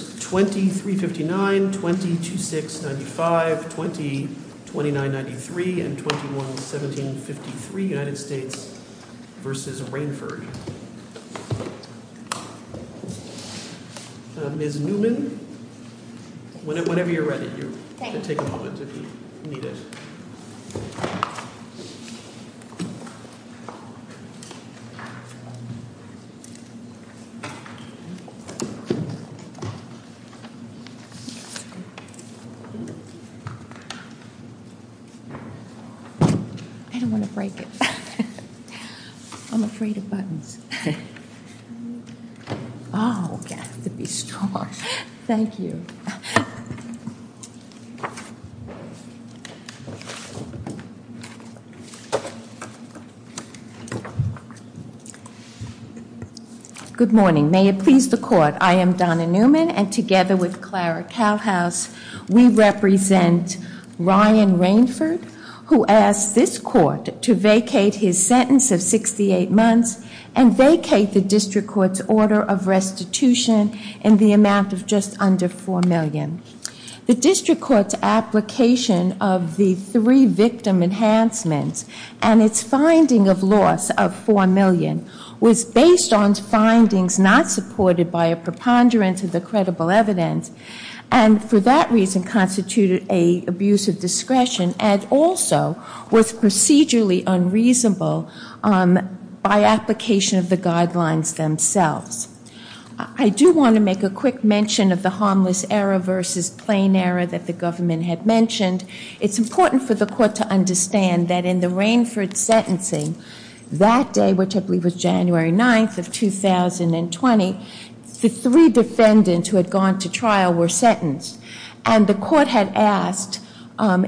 23-59, 20-26-95, 20-29-93, and 21-17-53, United States v. Rainford. Ms. Newman, whenever you're ready, you can take a moment if you need it. I don't want to break it. I'm afraid of buttons. Oh, you have to be strong. Thank you. Good morning. May it please the court, I am Donna Newman and together with Clara Kalhaus, we represent Ryan Rainford, who asked this court to vacate his sentence of 68 months and vacate the district court's order of restitution in the amount of just under $4 million. The district court's application of the three victim enhancements and its finding of loss of $4 million was based on findings not supported by a preponderance of the credible evidence and for that reason constituted an abuse of discretion and also was procedurally unreasonable by application of the guidelines themselves. I do want to make a quick mention of the harmless error versus plain error that the government had mentioned. It's important for the court to understand that in the Rainford sentencing that day, which I believe was January 9th of 2020, the three defendants who had gone to trial were sentenced and the court had asked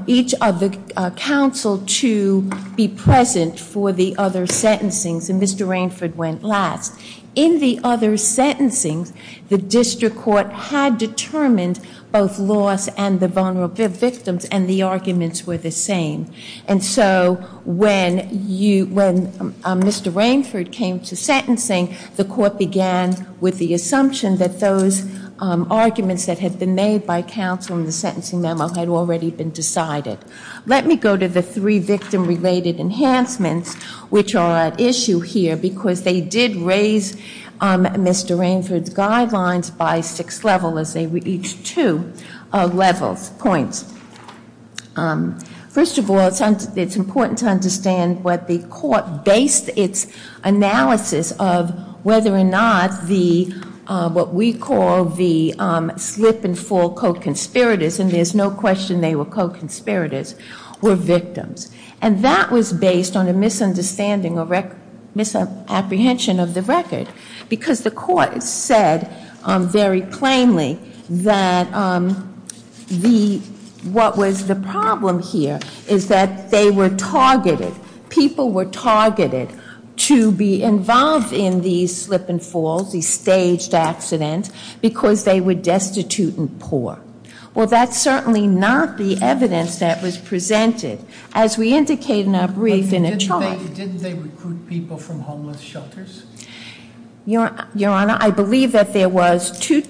each of the counsel to be present for the other sentencing, so Mr. Rainford went last. In the other sentencing, the district court had determined both loss and the vulnerable victims and the arguments were the same. And so when Mr. Rainford came to sentencing, the court began with the assumption that those arguments that had been made by counsel in the sentencing memo had already been decided. Let me go to the three victim-related enhancements, which are at issue here, because they did raise Mr. Rainford's guidelines by six levels as they were each two points. First of all, it's important to understand what the court based its analysis of, whether or not what we call the slip-and-fall co-conspirators, and there's no question they were co-conspirators, were victims. And that was based on a misunderstanding or misapprehension of the record, because the court said very plainly that what was the problem here is that they were targeted, people were targeted to be involved in these slip-and-falls, these staged accidents, because they were destitute and poor. Well, that's certainly not the evidence that was presented, as we indicate in our brief in a charge. Didn't they recruit people from homeless shelters? Your Honor, I believe that there was two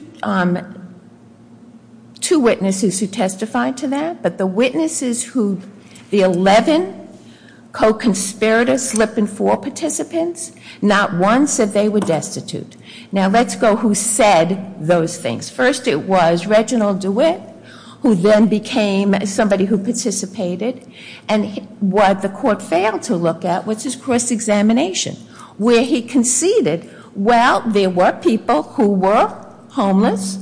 witnesses who testified to that, but the witnesses who the 11 co-conspirators, slip-and-fall participants, not one said they were destitute. Now, let's go who said those things. First, it was Reginald DeWitt, who then became somebody who participated, and what the court failed to look at was his cross-examination, where he conceded, well, there were people who were homeless,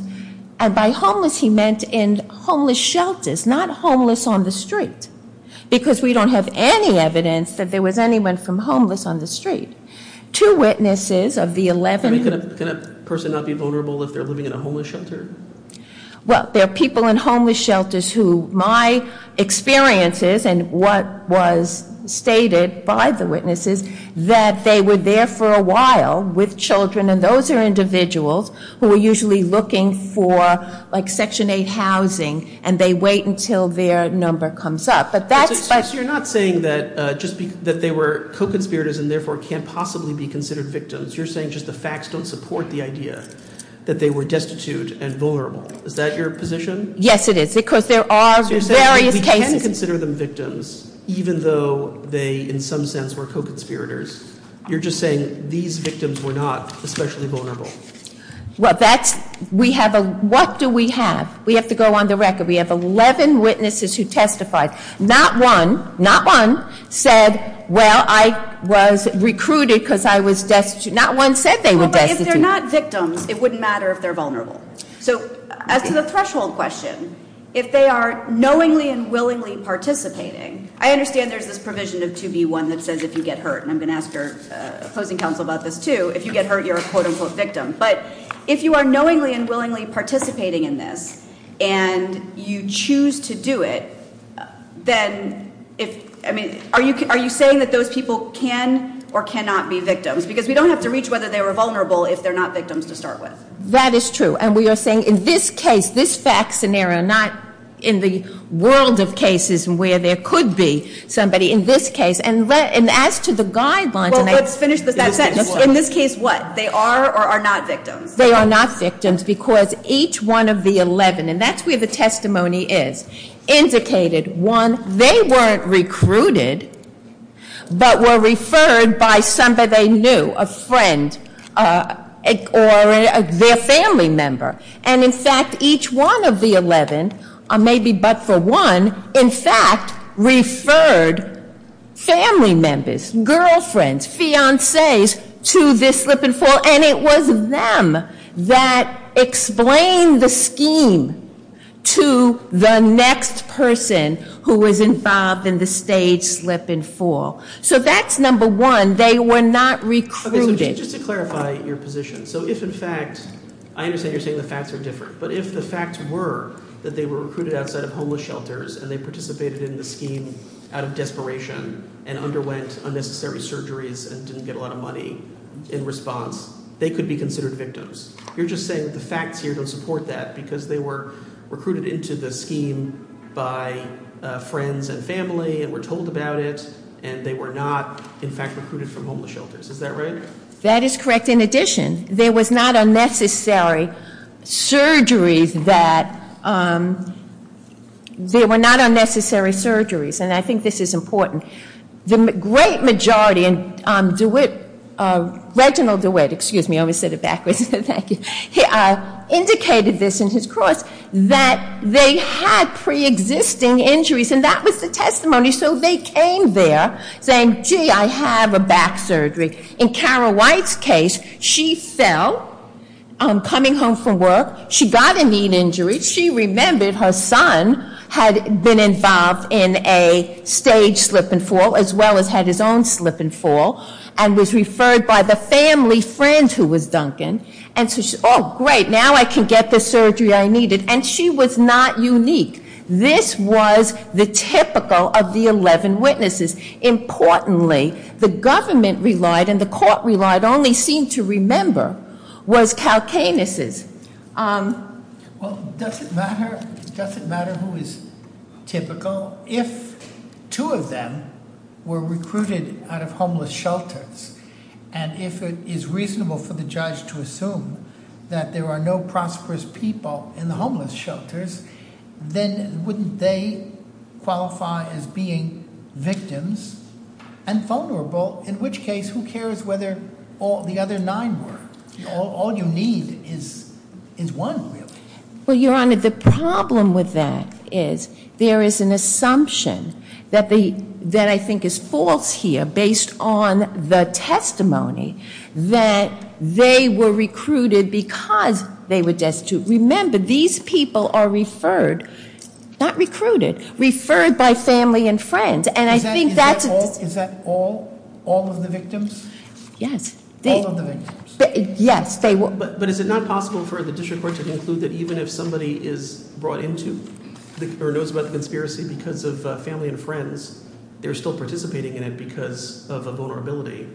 and by homeless he meant in homeless shelters, not homeless on the street, because we don't have any evidence that there was anyone from homeless on the street. Two witnesses of the 11. Can a person not be vulnerable if they're living in a homeless shelter? Well, there are people in homeless shelters who my experience is, and what was stated by the witnesses, that they were there for a while with children, and those are individuals who are usually looking for section 8 housing, and they wait until their number comes up. But that's- So you're not saying that they were co-conspirators and therefore can't possibly be considered victims. You're saying just the facts don't support the idea that they were destitute and vulnerable. Is that your position? Yes, it is, because there are various cases- So you're saying we can consider them victims, even though they, in some sense, were co-conspirators. You're just saying these victims were not especially vulnerable. Well, that's, we have a, what do we have? We have to go on the record. We have 11 witnesses who testified. Not one, not one, said, well, I was recruited because I was destitute. Not one said they were destitute. Well, but if they're not victims, it wouldn't matter if they're vulnerable. So, as to the threshold question, if they are knowingly and willingly participating, I understand there's this provision of 2B1 that says if you get hurt. And I'm going to ask your opposing counsel about this, too. If you get hurt, you're a quote-unquote victim. But if you are knowingly and willingly participating in this and you choose to do it, then if, I mean, are you saying that those people can or cannot be victims? Because we don't have to reach whether they were vulnerable if they're not victims to start with. That is true. And we are saying in this case, this fact scenario, not in the world of cases where there could be somebody. In this case, and as to the guidelines. Well, let's finish that sentence. In this case, what? They are or are not victims. They are not victims because each one of the 11, and that's where the testimony is, indicated, one, they weren't recruited, but were referred by somebody they knew, a friend, or their family member. And, in fact, each one of the 11, maybe but for one, in fact, referred family members, girlfriends, fiances to this slip and fall, and it was them that explained the scheme to the next person who was involved in the staged slip and fall. So that's number one, they were not recruited. Okay, so just to clarify your position. So if, in fact, I understand you're saying the facts are different. But if the facts were that they were recruited outside of homeless shelters, and they participated in the scheme out of desperation, and underwent unnecessary surgeries, and didn't get a lot of money in response, they could be considered victims. You're just saying the facts here don't support that because they were recruited into the scheme by friends and family, and were told about it, and they were not, in fact, recruited from homeless shelters. Is that right? That is correct. In addition, there were not unnecessary surgeries, and I think this is important. The great majority, and Reginald DeWitt, excuse me, I always said it backwards, thank you, indicated this in his course, that they had pre-existing injuries, and that was the testimony. So they came there saying, gee, I have a back surgery. In Kara White's case, she fell coming home from work. She got a knee injury. She remembered her son had been involved in a stage slip and fall, as well as had his own slip and fall, and was referred by the family friend who was Duncan. And so she said, oh, great, now I can get the surgery I needed. And she was not unique. This was the typical of the 11 witnesses. Importantly, the government relied and the court relied only seemed to remember was Kalkanis'. Well, does it matter who is typical? If two of them were recruited out of homeless shelters, and if it is reasonable for the judge to assume that there are no prosperous people in the homeless shelters, then wouldn't they qualify as being victims and vulnerable? In which case, who cares whether the other nine were? All you need is one, really. Well, Your Honor, the problem with that is there is an assumption that I think is false here, based on the testimony, that they were recruited because they were destitute. Remember, these people are referred, not recruited, referred by family and friends. Is that all of the victims? Yes. All of the victims? Yes. But is it not possible for the district court to conclude that even if somebody is brought into or knows about the conspiracy because of family and friends, they're still participating in it because of a vulnerability,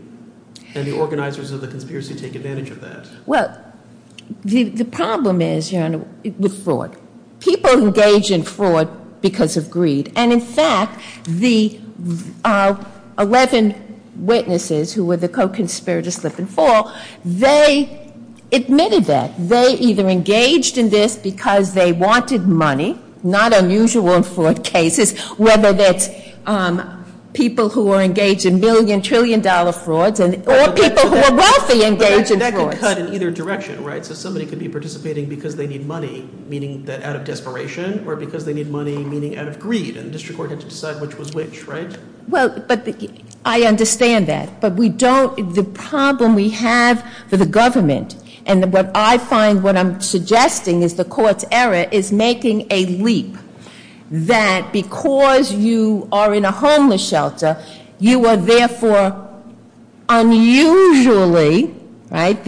and the organizers of the conspiracy take advantage of that? Well, the problem is, Your Honor, with fraud. People engage in fraud because of greed. And, in fact, the 11 witnesses who were the co-conspirators slip and fall, they admitted that. They either engaged in this because they wanted money, not unusual in fraud cases, whether that's people who are engaged in million, trillion-dollar frauds, or people who are wealthy engage in frauds. But that could cut in either direction, right? So somebody could be participating because they need money, meaning out of desperation, or because they need money, meaning out of greed, and the district court had to decide which was which, right? Well, but I understand that. But we don't, the problem we have for the government, and what I find, what I'm suggesting is the court's error is making a leap that because you are in a homeless shelter, you are therefore unusually, right,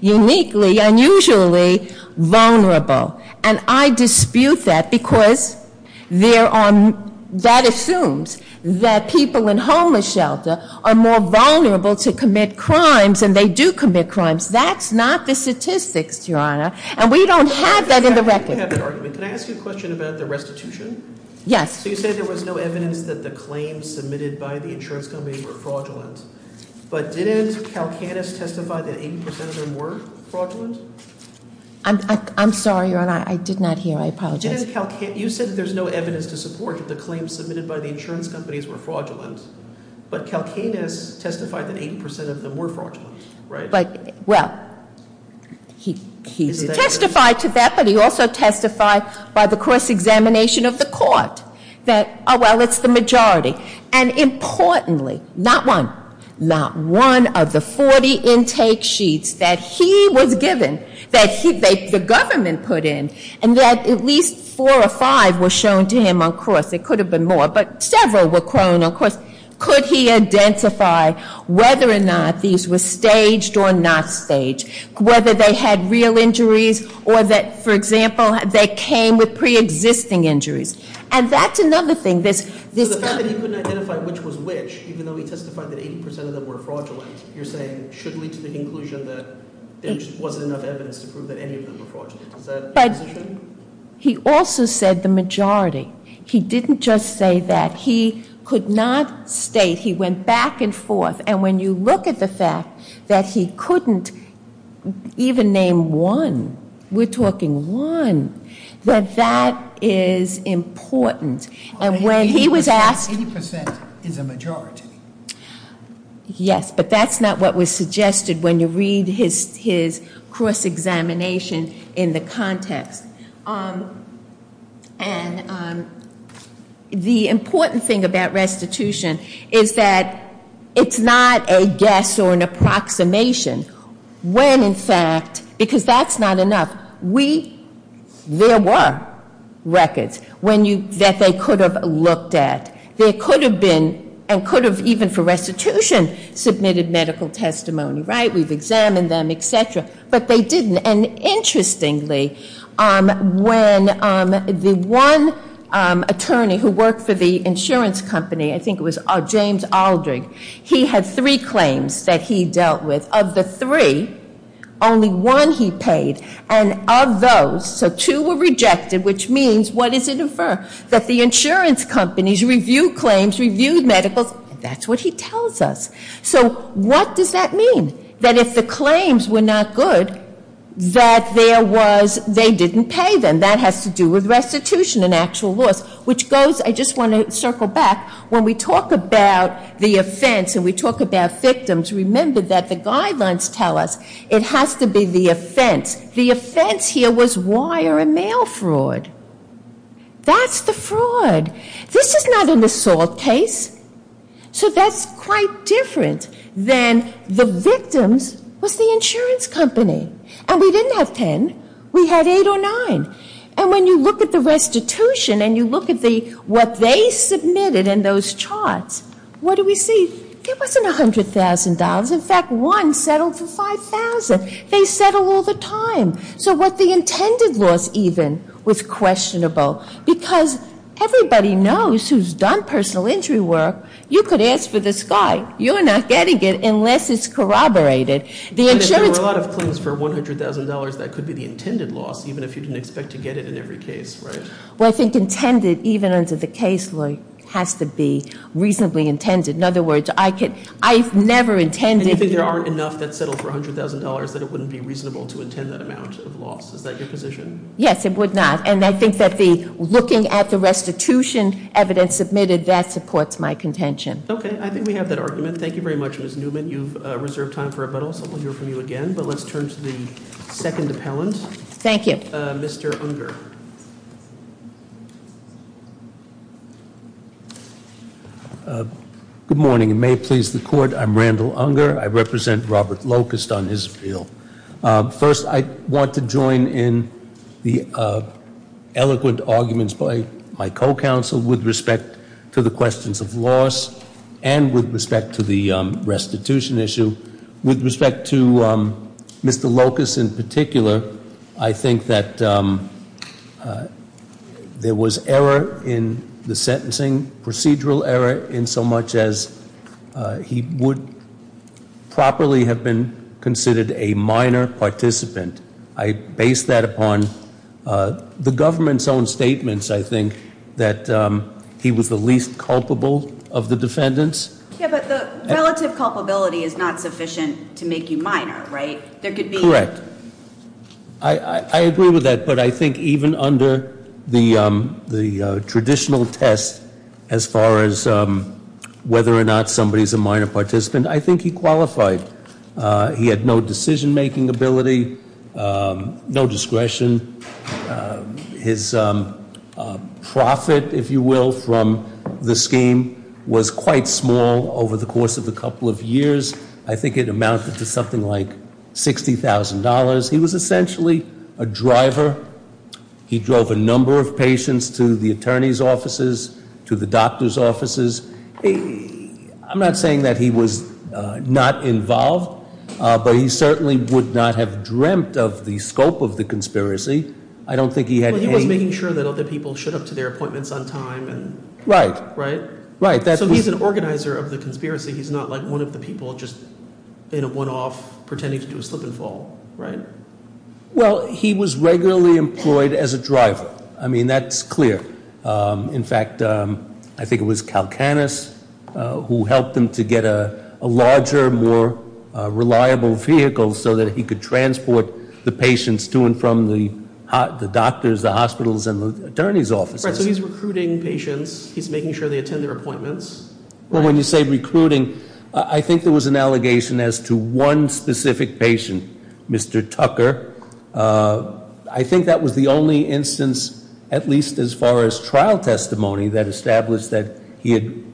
uniquely, unusually vulnerable. And I dispute that because that assumes that people in homeless shelter are more vulnerable to commit crimes, and they do commit crimes. That's not the statistics, Your Honor. And we don't have that in the record. I have an argument. Can I ask you a question about the restitution? Yes. So you said there was no evidence that the claims submitted by the insurance companies were fraudulent, but didn't Kalkanis testify that 80% of them were fraudulent? I'm sorry, Your Honor. I did not hear. I apologize. You said that there's no evidence to support that the claims submitted by the insurance companies were fraudulent, but Kalkanis testified that 80% of them were fraudulent, right? He testified to that, but he also testified by the cross-examination of the court that, oh, well, it's the majority. And importantly, not one, not one of the 40 intake sheets that he was given, that the government put in, and that at least four or five were shown to him on cross. It could have been more, but several were crowned on cross. Could he identify whether or not these were staged or not staged, whether they had real injuries or that, for example, they came with preexisting injuries? And that's another thing. So the fact that he couldn't identify which was which, even though he testified that 80% of them were fraudulent, you're saying should lead to the conclusion that there just wasn't enough evidence to prove that any of them were fraudulent. Is that your position? But he also said the majority. He didn't just say that. He could not state. He went back and forth. And when you look at the fact that he couldn't even name one, we're talking one, that that is important. And when he was asked- 80% is a majority. Yes, but that's not what was suggested when you read his cross-examination in the context. And the important thing about restitution is that it's not a guess or an approximation. When, in fact, because that's not enough, there were records that they could have looked at. There could have been, and could have even for restitution, submitted medical testimony. Right? We've examined them, et cetera. But they didn't. And interestingly, when the one attorney who worked for the insurance company, I think it was James Aldrich, he had three claims that he dealt with. Of the three, only one he paid. And of those, so two were rejected, which means what does it infer? That the insurance companies reviewed claims, reviewed medicals. That's what he tells us. So what does that mean? That if the claims were not good, that there was- they didn't pay them. That has to do with restitution and actual loss. Which goes- I just want to circle back. When we talk about the offense and we talk about victims, remember that the guidelines tell us it has to be the offense. The offense here was wire and mail fraud. That's the fraud. This is not an assault case. So that's quite different than the victims was the insurance company. And we didn't have 10. We had eight or nine. And when you look at the restitution and you look at what they submitted in those charts, what do we see? It wasn't $100,000. In fact, one settled for $5,000. They settle all the time. So what the intended loss even was questionable. Because everybody knows who's done personal injury work, you could ask for the sky. You're not getting it unless it's corroborated. The insurance- But if there were a lot of claims for $100,000, that could be the intended loss, even if you didn't expect to get it in every case, right? Well, I think intended, even under the case law, has to be reasonably intended. In other words, I could- I've never intended- Yes, it would not. And I think that the looking at the restitution evidence submitted, that supports my contention. Okay, I think we have that argument. Thank you very much, Ms. Newman. You've reserved time for rebuttals. I'll hear from you again. But let's turn to the second appellant. Thank you. Mr. Unger. Good morning. May it please the court, I'm Randall Unger. I represent Robert Locust on his appeal. First, I want to join in the eloquent arguments by my co-counsel with respect to the questions of loss and with respect to the restitution issue. With respect to Mr. Locust in particular, I think that there was error in the sentencing, procedural error in so much as he would properly have been considered a minor participant. I base that upon the government's own statements, I think, that he was the least culpable of the defendants. Yeah, but the relative culpability is not sufficient to make you minor, right? There could be- Correct. I agree with that, but I think even under the traditional test, as far as whether or not somebody's a minor participant, I think he qualified. He had no decision-making ability, no discretion. His profit, if you will, from the scheme was quite small over the course of a couple of years. I think it amounted to something like $60,000. He was essentially a driver. He drove a number of patients to the attorney's offices, to the doctor's offices. I'm not saying that he was not involved, but he certainly would not have dreamt of the scope of the conspiracy. I don't think he had any- Well, he was making sure that other people showed up to their appointments on time and- Right. Right? So he's an organizer of the conspiracy. He's not one of the people just in a one-off pretending to do a slip and fall, right? Well, he was regularly employed as a driver. I mean, that's clear. In fact, I think it was Kalkanis who helped him to get a larger, more reliable vehicle so that he could transport the patients to and from the doctors, the hospitals, and the attorney's offices. Right, so he's recruiting patients. He's making sure they attend their appointments. Well, when you say recruiting, I think there was an allegation as to one specific patient, Mr. Tucker. I think that was the only instance, at least as far as trial testimony, that established that he had,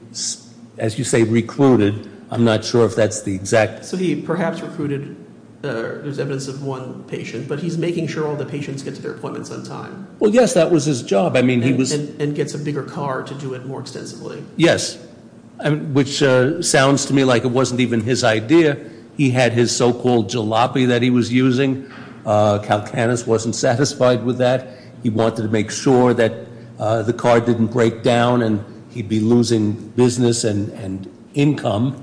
as you say, recruited. I'm not sure if that's the exact- So he perhaps recruited, there's evidence of one patient, but he's making sure all the patients get to their appointments on time. Well, yes, that was his job. I mean, he was- And gets a bigger car to do it more extensively. Yes, which sounds to me like it wasn't even his idea. He had his so-called jalopy that he was using. Kalkanis wasn't satisfied with that. He wanted to make sure that the car didn't break down and he'd be losing business and income.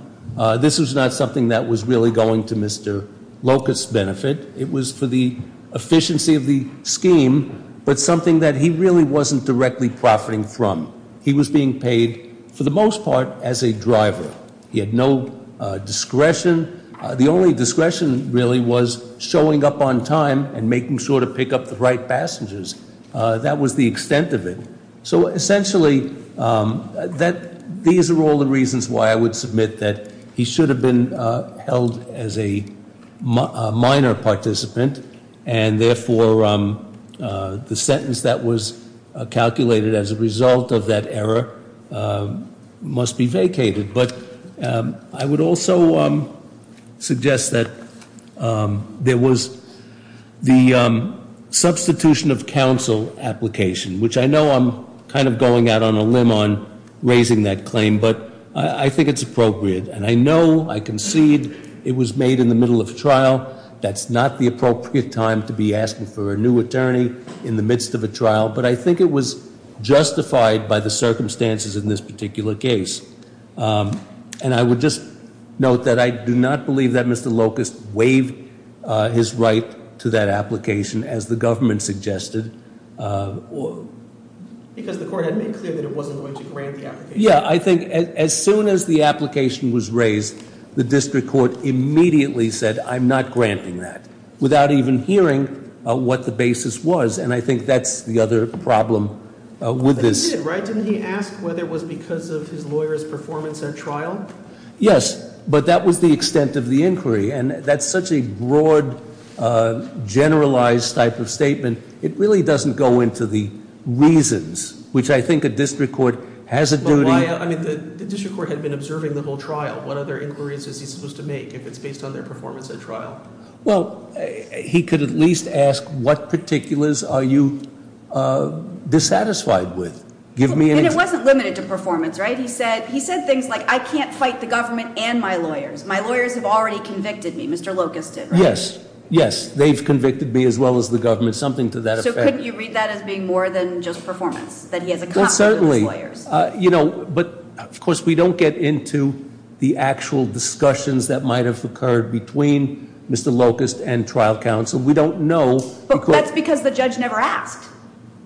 This was not something that was really going to Mr. Locust's benefit. It was for the efficiency of the scheme, but something that he really wasn't directly profiting from. He was being paid, for the most part, as a driver. He had no discretion. The only discretion, really, was showing up on time and making sure to pick up the right passengers. That was the extent of it. So, essentially, these are all the reasons why I would submit that he should have been held as a minor participant. And, therefore, the sentence that was calculated as a result of that error must be vacated. But I would also suggest that there was the substitution of counsel application, which I know I'm kind of going out on a limb on raising that claim, but I think it's appropriate. And I know, I concede, it was made in the middle of trial. That's not the appropriate time to be asking for a new attorney in the midst of a trial. But I think it was justified by the circumstances in this particular case. And I would just note that I do not believe that Mr. Locust waived his right to that application, as the government suggested. Because the court had made clear that it wasn't going to grant the application. Yeah, I think as soon as the application was raised, the district court immediately said, I'm not granting that, without even hearing what the basis was. And I think that's the other problem with this. He did, right? Didn't he ask whether it was because of his lawyer's performance at trial? Yes, but that was the extent of the inquiry. And that's such a broad, generalized type of statement. It really doesn't go into the reasons, which I think a district court has a duty to. I mean, the district court had been observing the whole trial. What other inquiries is he supposed to make, if it's based on their performance at trial? Well, he could at least ask, what particulars are you dissatisfied with? And it wasn't limited to performance, right? He said things like, I can't fight the government and my lawyers. My lawyers have already convicted me. Mr. Locust did, right? Yes, yes. They've convicted me, as well as the government. Something to that effect. That he has a confidence in his lawyers? Of course, we don't get into the actual discussions that might have occurred between Mr. Locust and trial counsel. We don't know. But that's because the judge never asked.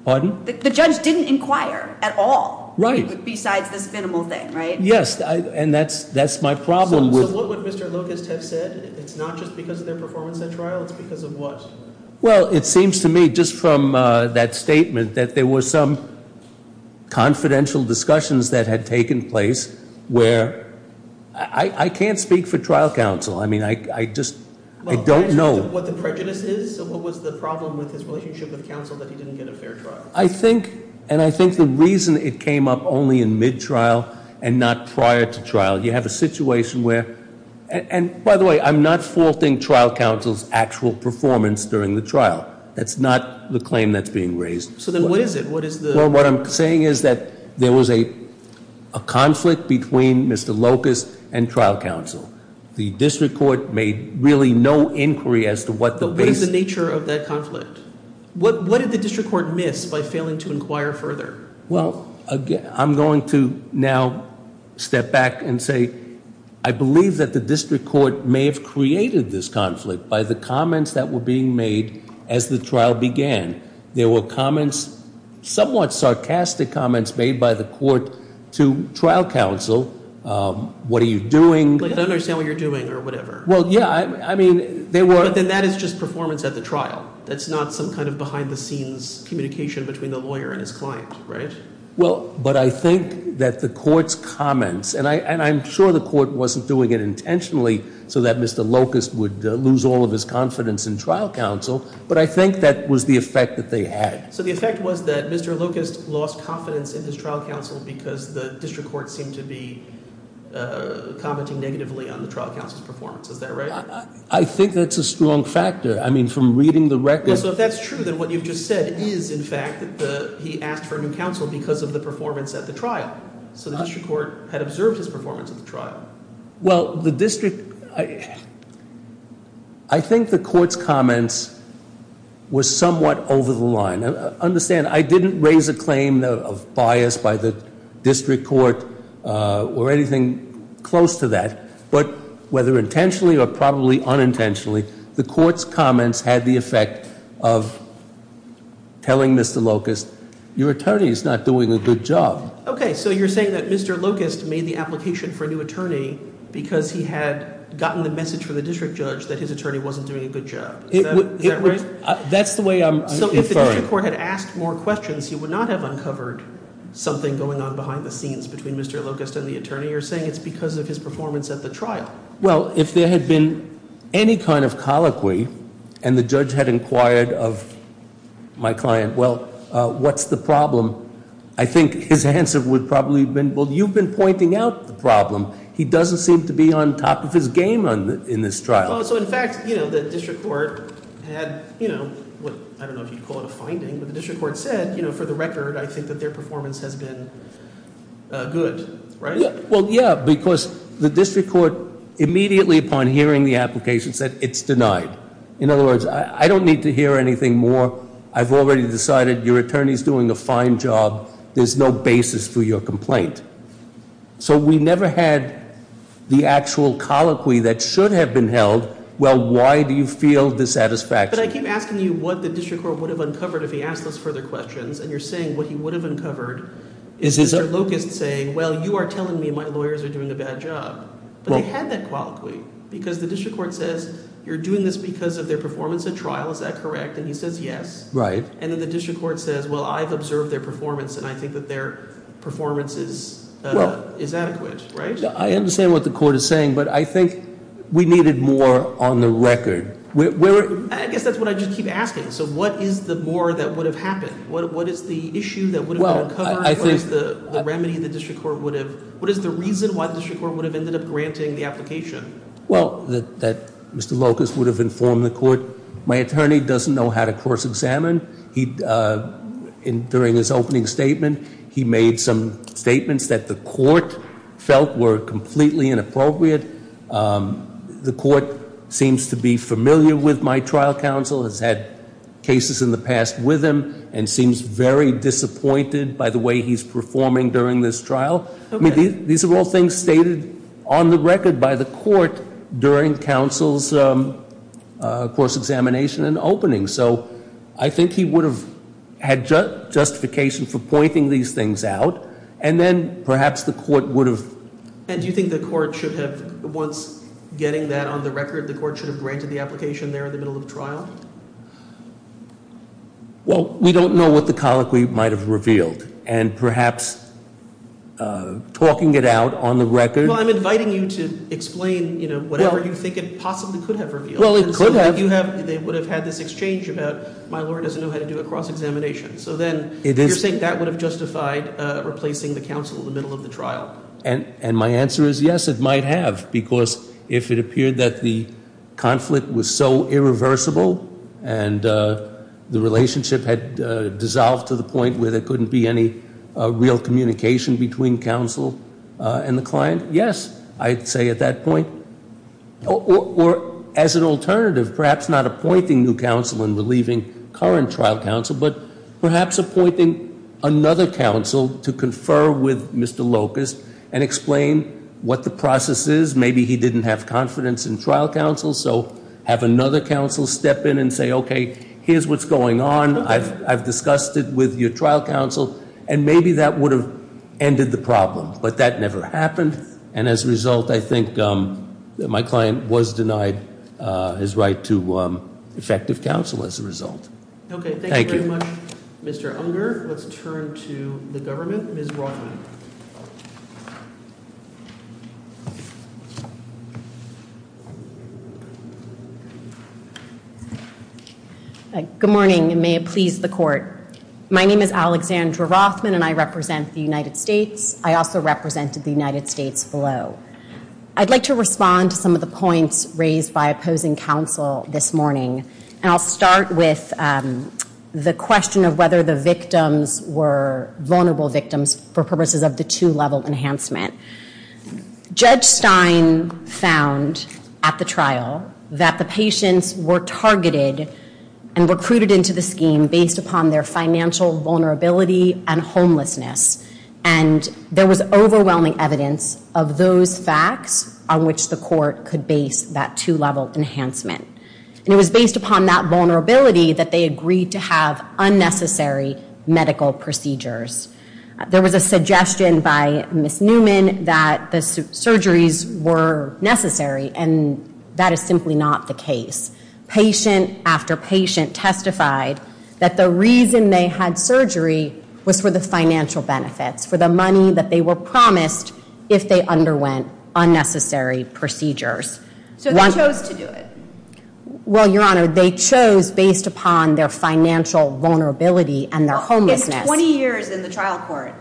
Pardon? The judge didn't inquire at all. Right. Besides this minimal thing, right? Yes, and that's my problem with- So what would Mr. Locust have said? It's not just because of their performance at trial. It's because of what? Well, it seems to me, just from that statement, that there were some confidential discussions that had taken place where- I can't speak for trial counsel. I mean, I just don't know. What the prejudice is? What was the problem with his relationship with counsel that he didn't get a fair trial? I think, and I think the reason it came up only in mid-trial and not prior to trial, you have a situation where- And by the way, I'm not faulting trial counsel's actual performance during the trial. That's not the claim that's being raised. So then what is it? What is the- Well, what I'm saying is that there was a conflict between Mr. Locust and trial counsel. The district court made really no inquiry as to what the- But what is the nature of that conflict? What did the district court miss by failing to inquire further? Well, I'm going to now step back and say I believe that the district court may have created this conflict by the comments that were being made as the trial began. There were comments, somewhat sarcastic comments, made by the court to trial counsel. What are you doing? I don't understand what you're doing or whatever. Well, yeah, I mean, there were- But then that is just performance at the trial. That's not some kind of behind-the-scenes communication between the lawyer and his client, right? Well, but I think that the court's comments- And I'm sure the court wasn't doing it intentionally so that Mr. Locust would lose all of his confidence in trial counsel, but I think that was the effect that they had. So the effect was that Mr. Locust lost confidence in his trial counsel because the district court seemed to be commenting negatively on the trial counsel's performance. Is that right? I think that's a strong factor. I mean, from reading the record- Well, so if that's true, then what you've just said is, in fact, that he asked for a new counsel because of the performance at the trial. So the district court had observed his performance at the trial. Well, the district- I think the court's comments were somewhat over the line. Understand, I didn't raise a claim of bias by the district court or anything close to that. But whether intentionally or probably unintentionally, the court's comments had the effect of telling Mr. Locust, your attorney is not doing a good job. Okay, so you're saying that Mr. Locust made the application for a new attorney because he had gotten the message from the district judge that his attorney wasn't doing a good job. Is that right? That's the way I'm inferring. So if the district court had asked more questions, you would not have uncovered something going on behind the scenes between Mr. Locust and the attorney. You're saying it's because of his performance at the trial. Well, if there had been any kind of colloquy and the judge had inquired of my client, well, what's the problem? I think his answer would probably have been, well, you've been pointing out the problem. He doesn't seem to be on top of his game in this trial. So, in fact, the district court had what I don't know if you'd call it a finding, but the district court said, for the record, I think that their performance has been good, right? Well, yeah, because the district court immediately upon hearing the application said it's denied. In other words, I don't need to hear anything more. I've already decided your attorney is doing a fine job. There's no basis for your complaint. So we never had the actual colloquy that should have been held. Well, why do you feel dissatisfaction? But I keep asking you what the district court would have uncovered if he asked us further questions. And you're saying what he would have uncovered is Mr. Locust saying, well, you are telling me my lawyers are doing a bad job. But they had that colloquy because the district court says you're doing this because of their performance at trial. Is that correct? And he says yes. And then the district court says, well, I've observed their performance, and I think that their performance is adequate, right? I understand what the court is saying, but I think we needed more on the record. I guess that's what I just keep asking. So what is the more that would have happened? What is the issue that would have been uncovered? What is the remedy the district court would have – what is the reason why the district court would have ended up granting the application? Well, that Mr. Locust would have informed the court. My attorney doesn't know how to course examine. During his opening statement, he made some statements that the court felt were completely inappropriate. The court seems to be familiar with my trial counsel, has had cases in the past with him, and seems very disappointed by the way he's performing during this trial. I mean, these are all things stated on the record by the court during counsel's course examination and opening. So I think he would have had justification for pointing these things out, and then perhaps the court would have – And do you think the court should have – once getting that on the record, the court should have granted the application there in the middle of trial? Well, we don't know what the colloquy might have revealed. And perhaps talking it out on the record – Well, I'm inviting you to explain whatever you think it possibly could have revealed. Well, it could have. They would have had this exchange about my lawyer doesn't know how to do a cross-examination. So then you're saying that would have justified replacing the counsel in the middle of the trial. And my answer is yes, it might have, because if it appeared that the conflict was so irreversible and the relationship had dissolved to the point where there couldn't be any real communication between counsel and the client, yes, I'd say at that point. Or as an alternative, perhaps not appointing new counsel and relieving current trial counsel, but perhaps appointing another counsel to confer with Mr. Locust and explain what the process is. Maybe he didn't have confidence in trial counsel, so have another counsel step in and say, okay, here's what's going on. I've discussed it with your trial counsel. And maybe that would have ended the problem. But that never happened. And as a result, I think my client was denied his right to effective counsel as a result. Okay, thank you very much, Mr. Unger. Let's turn to the government. Ms. Rothman. Good morning, and may it please the Court. My name is Alexandra Rothman, and I represent the United States. I also represented the United States below. I'd like to respond to some of the points raised by opposing counsel this morning. And I'll start with the question of whether the victims were vulnerable victims for purposes of the two-level enhancement. Judge Stein found at the trial that the patients were targeted and recruited into the scheme based upon their financial vulnerability and homelessness. And there was overwhelming evidence of those facts on which the Court could base that two-level enhancement. And it was based upon that vulnerability that they agreed to have unnecessary medical procedures. There was a suggestion by Ms. Newman that the surgeries were necessary, and that is simply not the case. Patient after patient testified that the reason they had surgery was for the financial benefits, for the money that they were promised if they underwent unnecessary procedures. So they chose to do it. Well, Your Honor, they chose based upon their financial vulnerability and their homelessness. In 20 years in the trial court,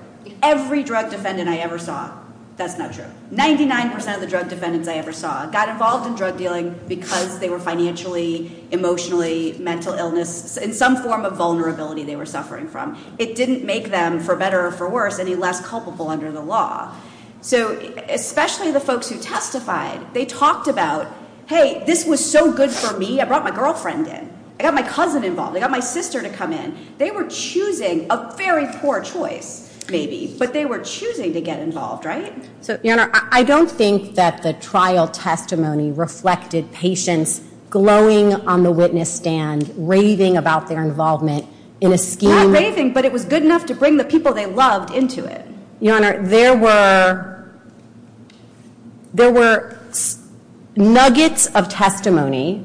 every drug defendant I ever saw, that's not true, 99% of the drug defendants I ever saw got involved in drug dealing because they were financially, emotionally, mental illness, in some form of vulnerability they were suffering from. It didn't make them, for better or for worse, any less culpable under the law. So, especially the folks who testified, they talked about, hey, this was so good for me, I brought my girlfriend in, I got my cousin involved, I got my sister to come in. They were choosing a very poor choice, maybe, but they were choosing to get involved, right? Your Honor, I don't think that the trial testimony reflected patients glowing on the witness stand, raving about their involvement in a scheme. Not raving, but it was good enough to bring the people they loved into it. Your Honor, there were nuggets of testimony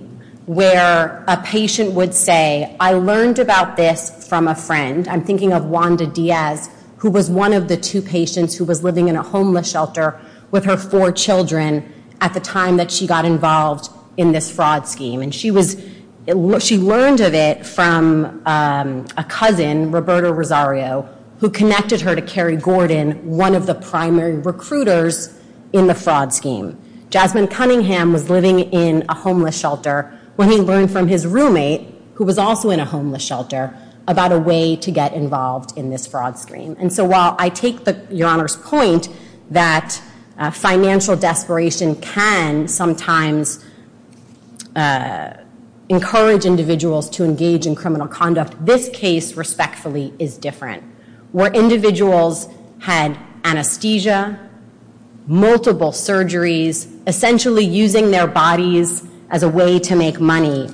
where a patient would say, I learned about this from a friend, I'm thinking of Wanda Diaz, who was one of the two patients who was living in a homeless shelter with her four children at the time that she got involved in this fraud scheme. And she learned of it from a cousin, Roberto Rosario, who connected her to Kerry Gordon, one of the primary recruiters in the fraud scheme. Jasmine Cunningham was living in a homeless shelter when he learned from his roommate, who was also in a homeless shelter, about a way to get involved in this fraud scheme. And so while I take Your Honor's point that financial desperation can sometimes encourage individuals to engage in criminal conduct, this case, respectfully, is different. Where individuals had anesthesia, multiple surgeries, essentially using their bodies as a way to make money,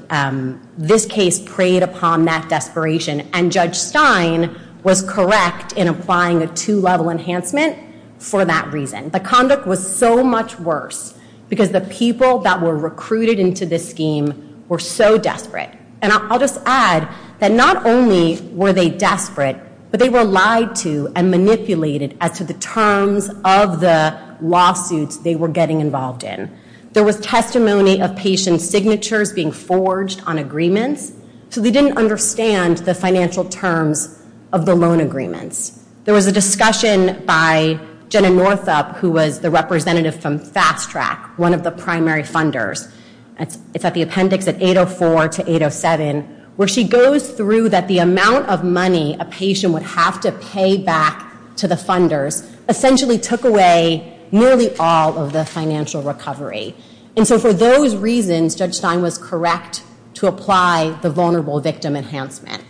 this case preyed upon that desperation. And Judge Stein was correct in applying a two-level enhancement for that reason. The conduct was so much worse because the people that were recruited into this scheme were so desperate. And I'll just add that not only were they desperate, but they were lied to and manipulated as to the terms of the lawsuits they were getting involved in. There was testimony of patient signatures being forged on agreements. So they didn't understand the financial terms of the loan agreements. There was a discussion by Jenna Northup, who was the representative from Fast Track, one of the primary funders. It's at the appendix at 804 to 807, where she goes through that the amount of money a patient would have to pay back to the funders essentially took away nearly all of the financial recovery. And so for those reasons, Judge Stein was correct to apply the vulnerable victim enhancement.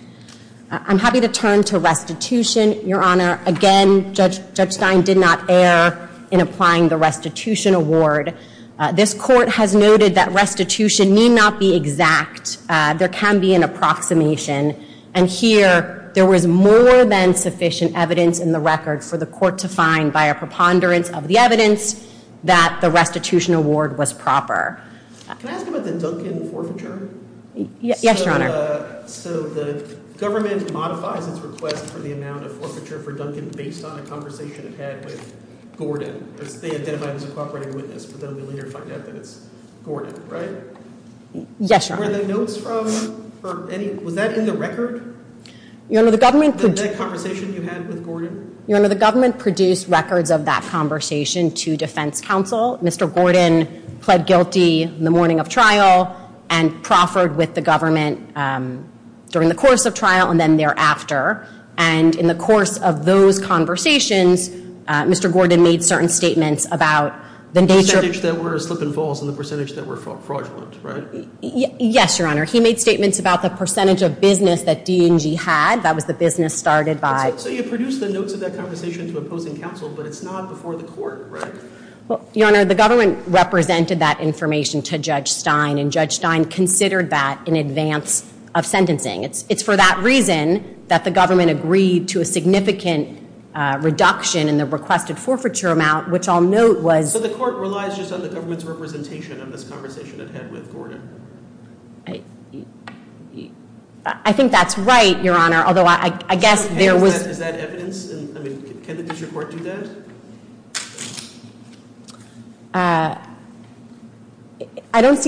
I'm happy to turn to restitution, Your Honor. Again, Judge Stein did not err in applying the restitution award. This court has noted that restitution need not be exact. There can be an approximation. And here, there was more than sufficient evidence in the record for the court to find by a preponderance of the evidence that the restitution award was proper. Can I ask about the Duncan forfeiture? Yes, Your Honor. So the government modifies its request for the amount of forfeiture for Duncan based on a conversation it had with Gordon. They identified as a cooperating witness, but then we later find out that it's Gordon, right? Yes, Your Honor. Were the notes from any—was that in the record? Your Honor, the government— That conversation you had with Gordon? Your Honor, the government produced records of that conversation to defense counsel. Mr. Gordon pled guilty in the morning of trial and proffered with the government during the course of trial and then thereafter. And in the course of those conversations, Mr. Gordon made certain statements about the nature— The percentage that were slip and falls and the percentage that were fraudulent, right? Yes, Your Honor. He made statements about the percentage of business that D&G had. That was the business started by— So you produced the notes of that conversation to opposing counsel, but it's not before the court, right? Your Honor, the government represented that information to Judge Stein, and Judge Stein considered that in advance of sentencing. It's for that reason that the government agreed to a significant reduction in the requested forfeiture amount, which I'll note was— So the court relies just on the government's representation in this conversation it had with Gordon? I think that's right, Your Honor, although I guess there was— Is that evidence? I mean, can the district court do that? I don't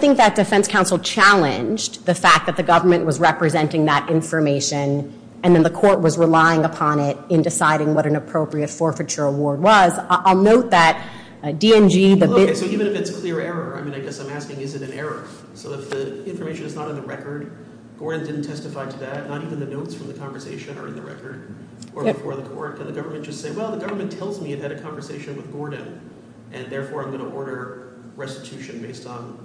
think that defense counsel challenged the fact that the government was representing that information and then the court was relying upon it in deciding what an appropriate forfeiture award was. I'll note that D&G— Okay, so even if it's a clear error, I mean, I guess I'm asking is it an error? So if the information is not on the record, Gordon didn't testify to that, not even the notes from the conversation are in the record, or before the court, can the government just say, well, the government tells me it had a conversation with Gordon, and therefore I'm going to order restitution based on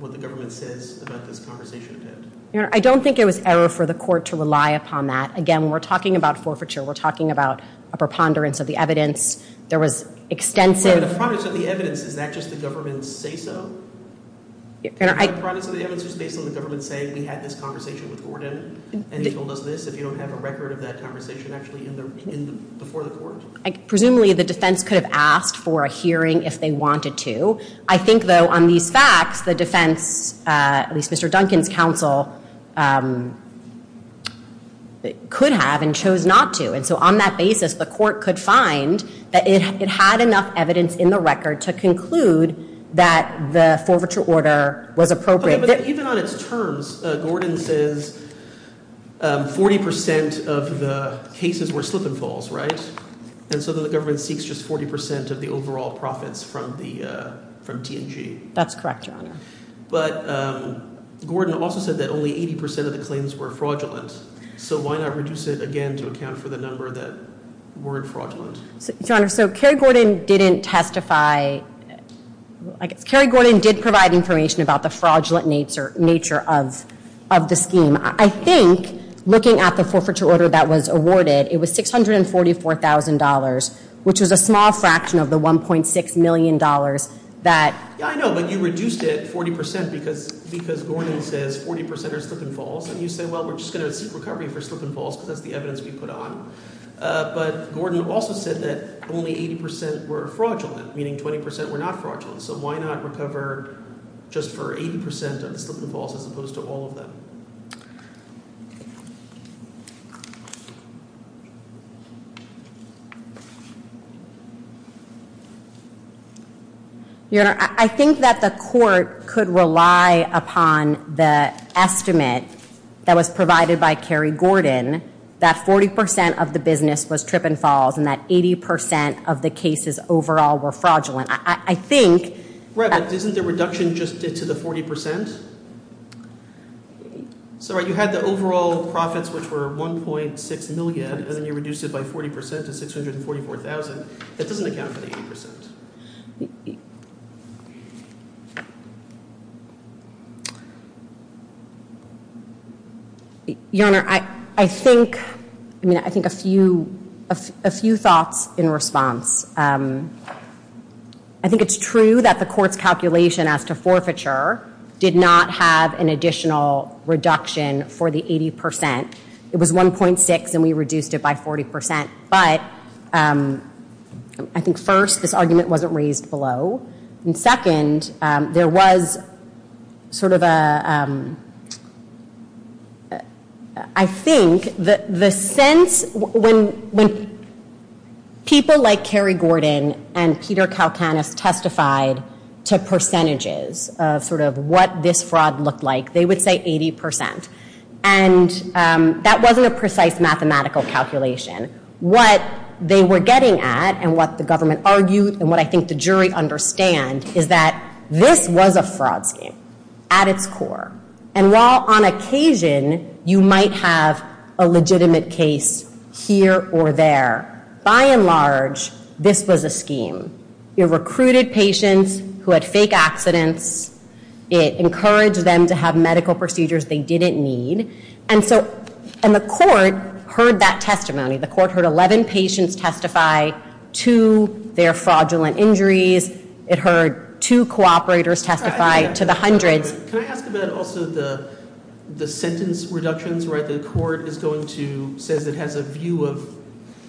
what the government says about this conversation it had? Your Honor, I don't think it was error for the court to rely upon that. Again, when we're talking about forfeiture, we're talking about a preponderance of the evidence. There was extensive— So the products of the evidence, is that just the government's say-so? Your Honor, I— And you told us this if you don't have a record of that conversation actually before the court? Presumably the defense could have asked for a hearing if they wanted to. I think, though, on these facts, the defense, at least Mr. Duncan's counsel, could have and chose not to. And so on that basis, the court could find that it had enough evidence in the record to conclude that the forfeiture order was appropriate. Even on its terms, Gordon says 40% of the cases were slip and falls, right? And so then the government seeks just 40% of the overall profits from T&G. That's correct, Your Honor. But Gordon also said that only 80% of the claims were fraudulent. So why not reduce it again to account for the number that weren't fraudulent? Your Honor, so Kerry Gordon didn't testify— I guess Kerry Gordon did provide information about the fraudulent nature of the scheme. I think, looking at the forfeiture order that was awarded, it was $644,000, which was a small fraction of the $1.6 million that— Yeah, I know, but you reduced it 40% because Gordon says 40% are slip and falls. And you say, well, we're just going to seek recovery for slip and falls because that's the evidence we put on. But Gordon also said that only 80% were fraudulent, meaning 20% were not fraudulent. So why not recover just for 80% of the slip and falls as opposed to all of them? Your Honor, I think that the court could rely upon the estimate that was provided by Kerry Gordon that 40% of the business was trip and falls and that 80% of the cases overall were fraudulent. I think— Right, but isn't the reduction just to the 40%? Sorry, you had the overall profits, which were $1.6 million, and then you reduced it by 40% to $644,000. That doesn't account for the 80%. Your Honor, I think—I mean, I think a few thoughts in response. I think it's true that the court's calculation as to forfeiture did not have an additional reduction for the 80%. It was $1.6 million, and we reduced it by 40%. But I think, first, this argument wasn't raised publicly. And second, there was sort of a—I think the sense— when people like Kerry Gordon and Peter Kalkanis testified to percentages of sort of what this fraud looked like, they would say 80%. And that wasn't a precise mathematical calculation. What they were getting at and what the government argued and what I think the jury understand is that this was a fraud scheme at its core. And while on occasion you might have a legitimate case here or there, by and large, this was a scheme. It recruited patients who had fake accidents. It encouraged them to have medical procedures they didn't need. And so—and the court heard that testimony. The court heard 11 patients testify to their fraudulent injuries. It heard two cooperators testify to the hundreds. Can I ask about also the sentence reductions, right? The court is going to—says it has a view of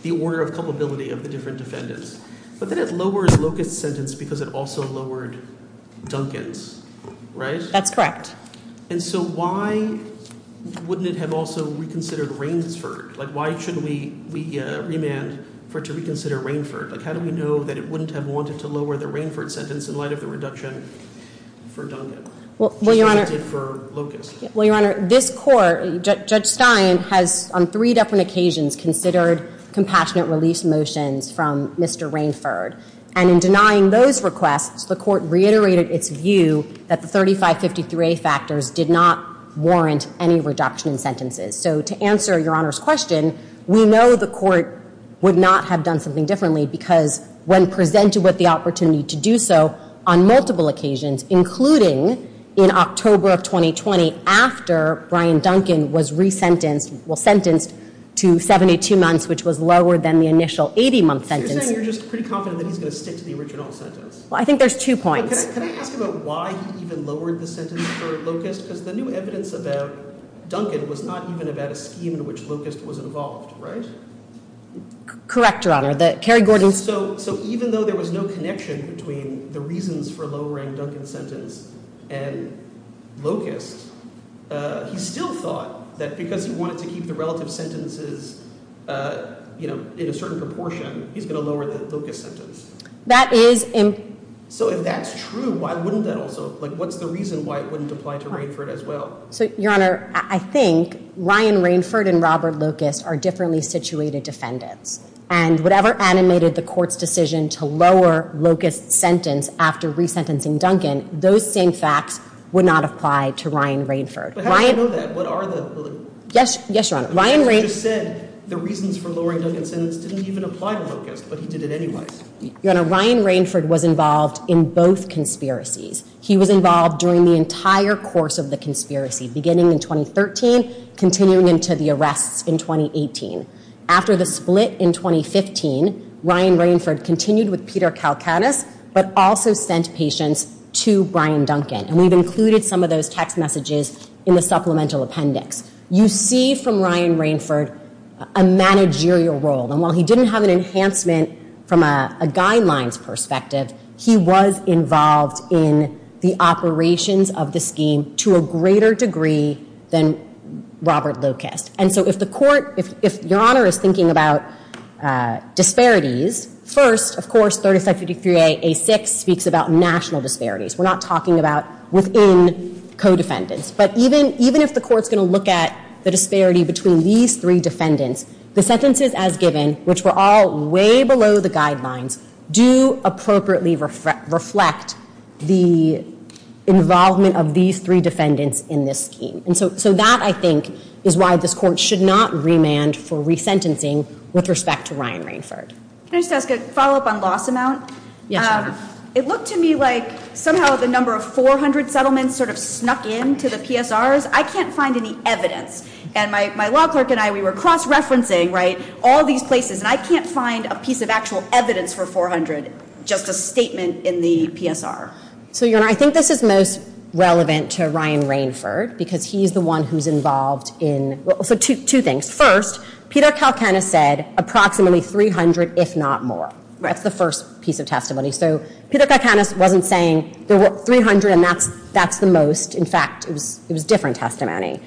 the order of culpability of the different defendants. But then it lowers Locust's sentence because it also lowered Duncan's, right? That's correct. And so why wouldn't it have also reconsidered Rainford? Like why should we remand for it to reconsider Rainford? Like how do we know that it wouldn't have wanted to lower the Rainford sentence in light of the reduction for Duncan? Well, Your Honor— Which it did for Locust. Well, Your Honor, this court, Judge Stein, has on three different occasions considered compassionate release motions from Mr. Rainford. And in denying those requests, the court reiterated its view that the 3553A factors did not warrant any reduction in sentences. So to answer Your Honor's question, we know the court would not have done something differently because when presented with the opportunity to do so on multiple occasions, including in October of 2020 after Brian Duncan was resentenced—well, sentenced to 72 months, which was lower than the initial 80-month sentence— So you're saying you're just pretty confident that he's going to stick to the original sentence? Well, I think there's two points. Can I ask about why he even lowered the sentence for Locust? Because the new evidence about Duncan was not even about a scheme in which Locust was involved, right? Correct, Your Honor. That Kerry Gordon's— So even though there was no connection between the reasons for lowering Duncan's sentence and Locust, he still thought that because he wanted to keep the relative sentences, you know, in a certain proportion, he's going to lower the Locust sentence. That is— So if that's true, why wouldn't that also—like, what's the reason why it wouldn't apply to Rainford as well? So, Your Honor, I think Ryan Rainford and Robert Locust are differently situated defendants, and whatever animated the court's decision to lower Locust's sentence after resentencing Duncan, those same facts would not apply to Ryan Rainford. But how do you know that? What are the— Yes, Your Honor. You just said the reasons for lowering Duncan's sentence didn't even apply to Locust, but he did it anyway. Your Honor, Ryan Rainford was involved in both conspiracies. He was involved during the entire course of the conspiracy, beginning in 2013, continuing into the arrests in 2018. After the split in 2015, Ryan Rainford continued with Peter Kalkanis, but also sent patients to Brian Duncan, and we've included some of those text messages in the supplemental appendix. You see from Ryan Rainford a managerial role, and while he didn't have an enhancement from a guidelines perspective, he was involved in the operations of the scheme to a greater degree than Robert Locust. And so if the court—if Your Honor is thinking about disparities, first, of course, 3553-A-6 speaks about national disparities. We're not talking about within co-defendants. But even if the court's going to look at the disparity between these three defendants, the sentences as given, which were all way below the guidelines, do appropriately reflect the involvement of these three defendants in this scheme. And so that, I think, is why this court should not remand for resentencing with respect to Ryan Rainford. Can I just ask a follow-up on loss amount? Yes, Your Honor. It looked to me like somehow the number of 400 settlements sort of snuck into the PSRs. I can't find any evidence. And my law clerk and I, we were cross-referencing, right, all these places, and I can't find a piece of actual evidence for 400, just a statement in the PSR. So, Your Honor, I think this is most relevant to Ryan Rainford because he's the one who's involved in—well, so two things. First, Peter Kalkanis said approximately 300, if not more. That's the first piece of testimony. So Peter Kalkanis wasn't saying there were 300 and that's the most. In fact, it was different testimony.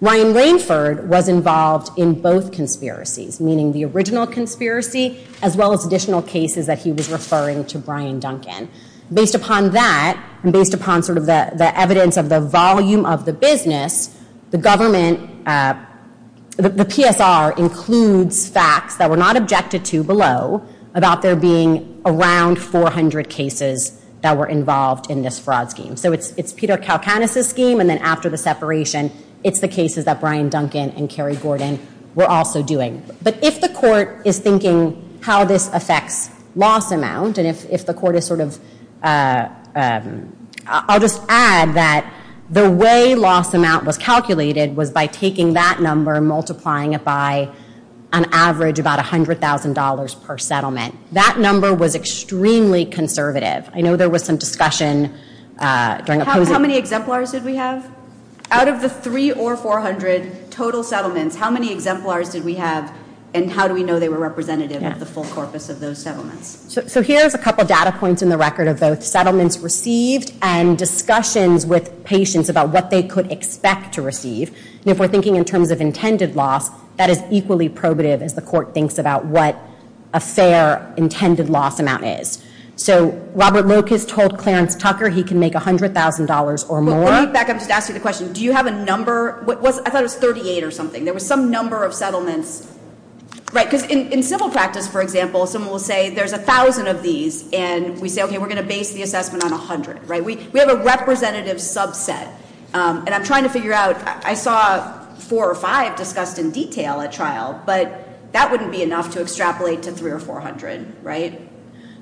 Ryan Rainford was involved in both conspiracies, meaning the original conspiracy as well as additional cases that he was referring to Brian Duncan. Based upon that and based upon sort of the evidence of the volume of the business, the government—the PSR includes facts that were not objected to below about there being around 400 cases that were involved in this fraud scheme. So it's Peter Kalkanis' scheme, and then after the separation, it's the cases that Brian Duncan and Kerry Gordon were also doing. But if the court is thinking how this affects loss amount, and if the court is sort of—I'll just add that the way loss amount was calculated was by taking that number and multiplying it by an average about $100,000 per settlement. That number was extremely conservative. I know there was some discussion during— How many exemplars did we have? Out of the 300 or 400 total settlements, how many exemplars did we have and how do we know they were representative of the full corpus of those settlements? So here's a couple of data points in the record of both settlements received and discussions with patients about what they could expect to receive. And if we're thinking in terms of intended loss, that is equally probative as the court thinks about what a fair intended loss amount is. So Robert Locust told Clarence Tucker he can make $100,000 or more. Let me back up and just ask you the question. Do you have a number? I thought it was 38 or something. There was some number of settlements. Right, because in civil practice, for example, someone will say there's 1,000 of these and we say, okay, we're going to base the assessment on 100. We have a representative subset, and I'm trying to figure out— I saw four or five discussed in detail at trial, but that wouldn't be enough to extrapolate to 300 or 400, right?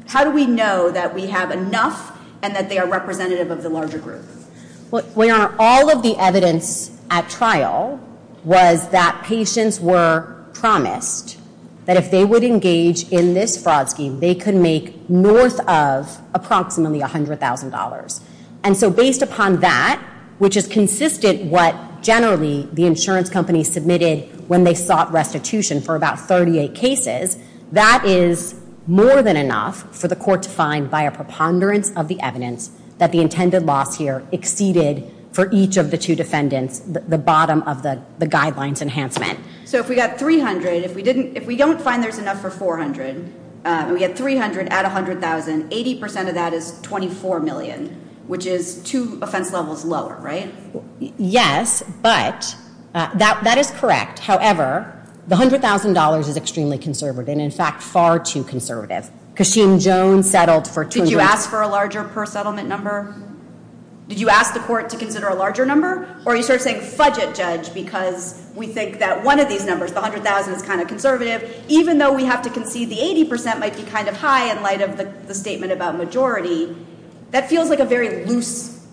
How do we know that we have enough and that they are representative of the larger group? Well, Your Honor, all of the evidence at trial was that patients were promised that if they would engage in this fraud scheme, they could make north of approximately $100,000. And so based upon that, which is consistent what generally the insurance companies submitted when they sought restitution for about 38 cases, that is more than enough for the court to find by a preponderance of the evidence that the intended loss here exceeded, for each of the two defendants, the bottom of the guidelines enhancement. So if we got 300, if we don't find there's enough for 400, and we get 300 at $100,000, 80% of that is $24 million, which is two offense levels lower, right? Yes, but that is correct. However, the $100,000 is extremely conservative, and in fact far too conservative. Kasheem Jones settled for $200,000. Did you ask for a larger per settlement number? Did you ask the court to consider a larger number? Or are you sort of saying, fudge it, Judge, because we think that one of these numbers, the $100,000, is kind of conservative, even though we have to concede the 80% might be kind of high in light of the statement about majority. That feels like a very loose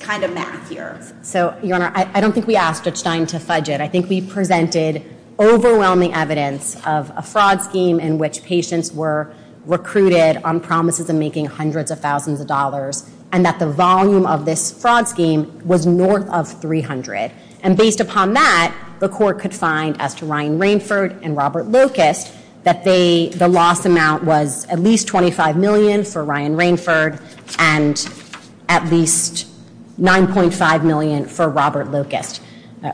kind of math here. So, Your Honor, I don't think we asked Ed Stein to fudge it. I think we presented overwhelming evidence of a fraud scheme in which patients were recruited on promises of making hundreds of thousands of dollars, and that the volume of this fraud scheme was north of 300. And based upon that, the court could find, as to Ryan Rainford and Robert Locust, that the loss amount was at least $25 million for Ryan Rainford and at least $9.5 million for Robert Locust.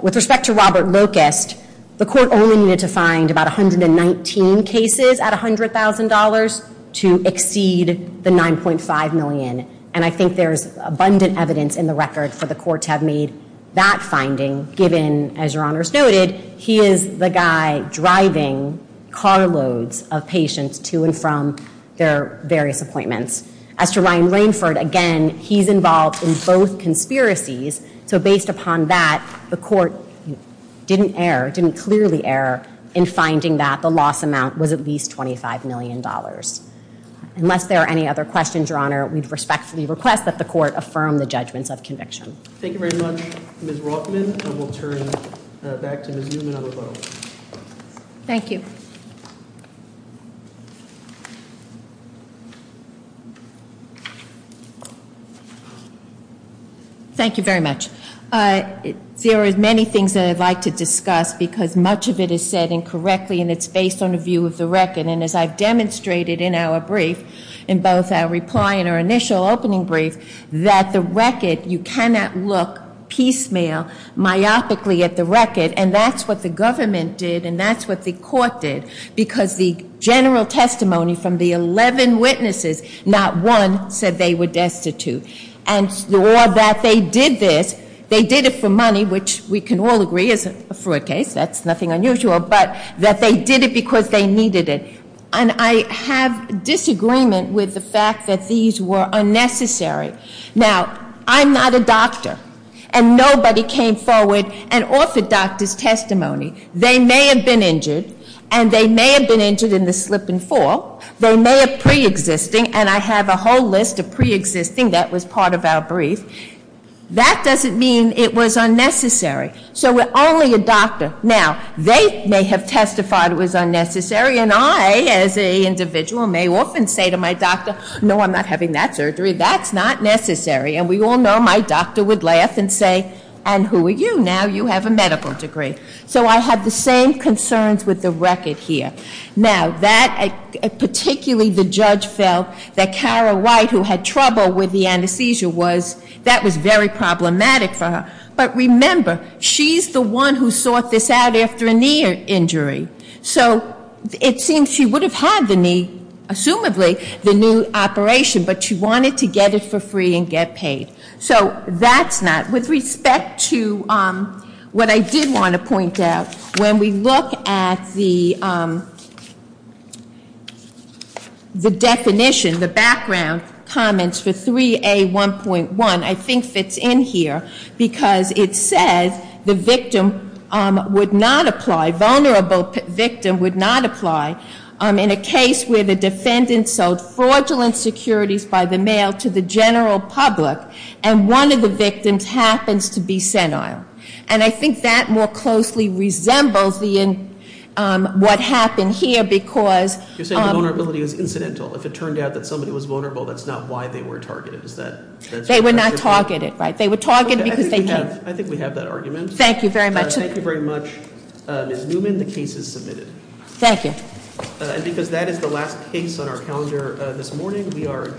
With respect to Robert Locust, the court only needed to find about 119 cases at $100,000 to exceed the $9.5 million. And I think there's abundant evidence in the record for the court to have made that finding, given, as Your Honors noted, he is the guy driving carloads of patients to and from their various appointments. As to Ryan Rainford, again, he's involved in both conspiracies. So based upon that, the court didn't err, didn't clearly err, in finding that the loss amount was at least $25 million. Unless there are any other questions, Your Honor, we respectfully request that the court affirm the judgments of conviction. Thank you very much, Ms. Rothman. And we'll turn back to Ms. Newman on the vote. Thank you. Thank you. Thank you very much. There are many things that I'd like to discuss because much of it is said incorrectly and it's based on a view of the record. And as I've demonstrated in our brief, in both our reply and our initial opening brief, that the record, you cannot look piecemeal, myopically at the record, and that's what the government did and that's what the court did because the general testimony from the 11 witnesses, not one said they were destitute. And that they did this, they did it for money, which we can all agree is a fraud case, that's nothing unusual, but that they did it because they needed it. And I have disagreement with the fact that these were unnecessary. Now, I'm not a doctor, and nobody came forward and authored doctors' testimony. They may have been injured, and they may have been injured in the slip and fall. They may have pre-existing, and I have a whole list of pre-existing that was part of our brief. That doesn't mean it was unnecessary. So we're only a doctor. Now, they may have testified it was unnecessary, and I, as an individual, may often say to my doctor, no, I'm not having that surgery, that's not necessary, and we all know my doctor would laugh and say, and who are you? Now you have a medical degree. So I have the same concerns with the record here. Now, particularly the judge felt that Kara White, who had trouble with the anesthesia, that was very problematic for her. But remember, she's the one who sought this out after a knee injury. So it seems she would have had the knee, assumably, the new operation, but she wanted to get it for free and get paid. So that's not. With respect to what I did want to point out, when we look at the definition, the background comments for 3A1.1, I think fits in here, because it says the victim would not apply, vulnerable victim would not apply, in a case where the defendant sold fraudulent securities by the mail to the general public and one of the victims happens to be senile. And I think that more closely resembles what happened here, because- You're saying the vulnerability was incidental. If it turned out that somebody was vulnerable, that's not why they were targeted, is that- They were not targeted, right? They were targeted because they- I think we have that argument. Thank you very much. Thank you very much. Ms. Newman, the case is submitted. Thank you. And because that is the last case on our calendar this morning, we are adjourned.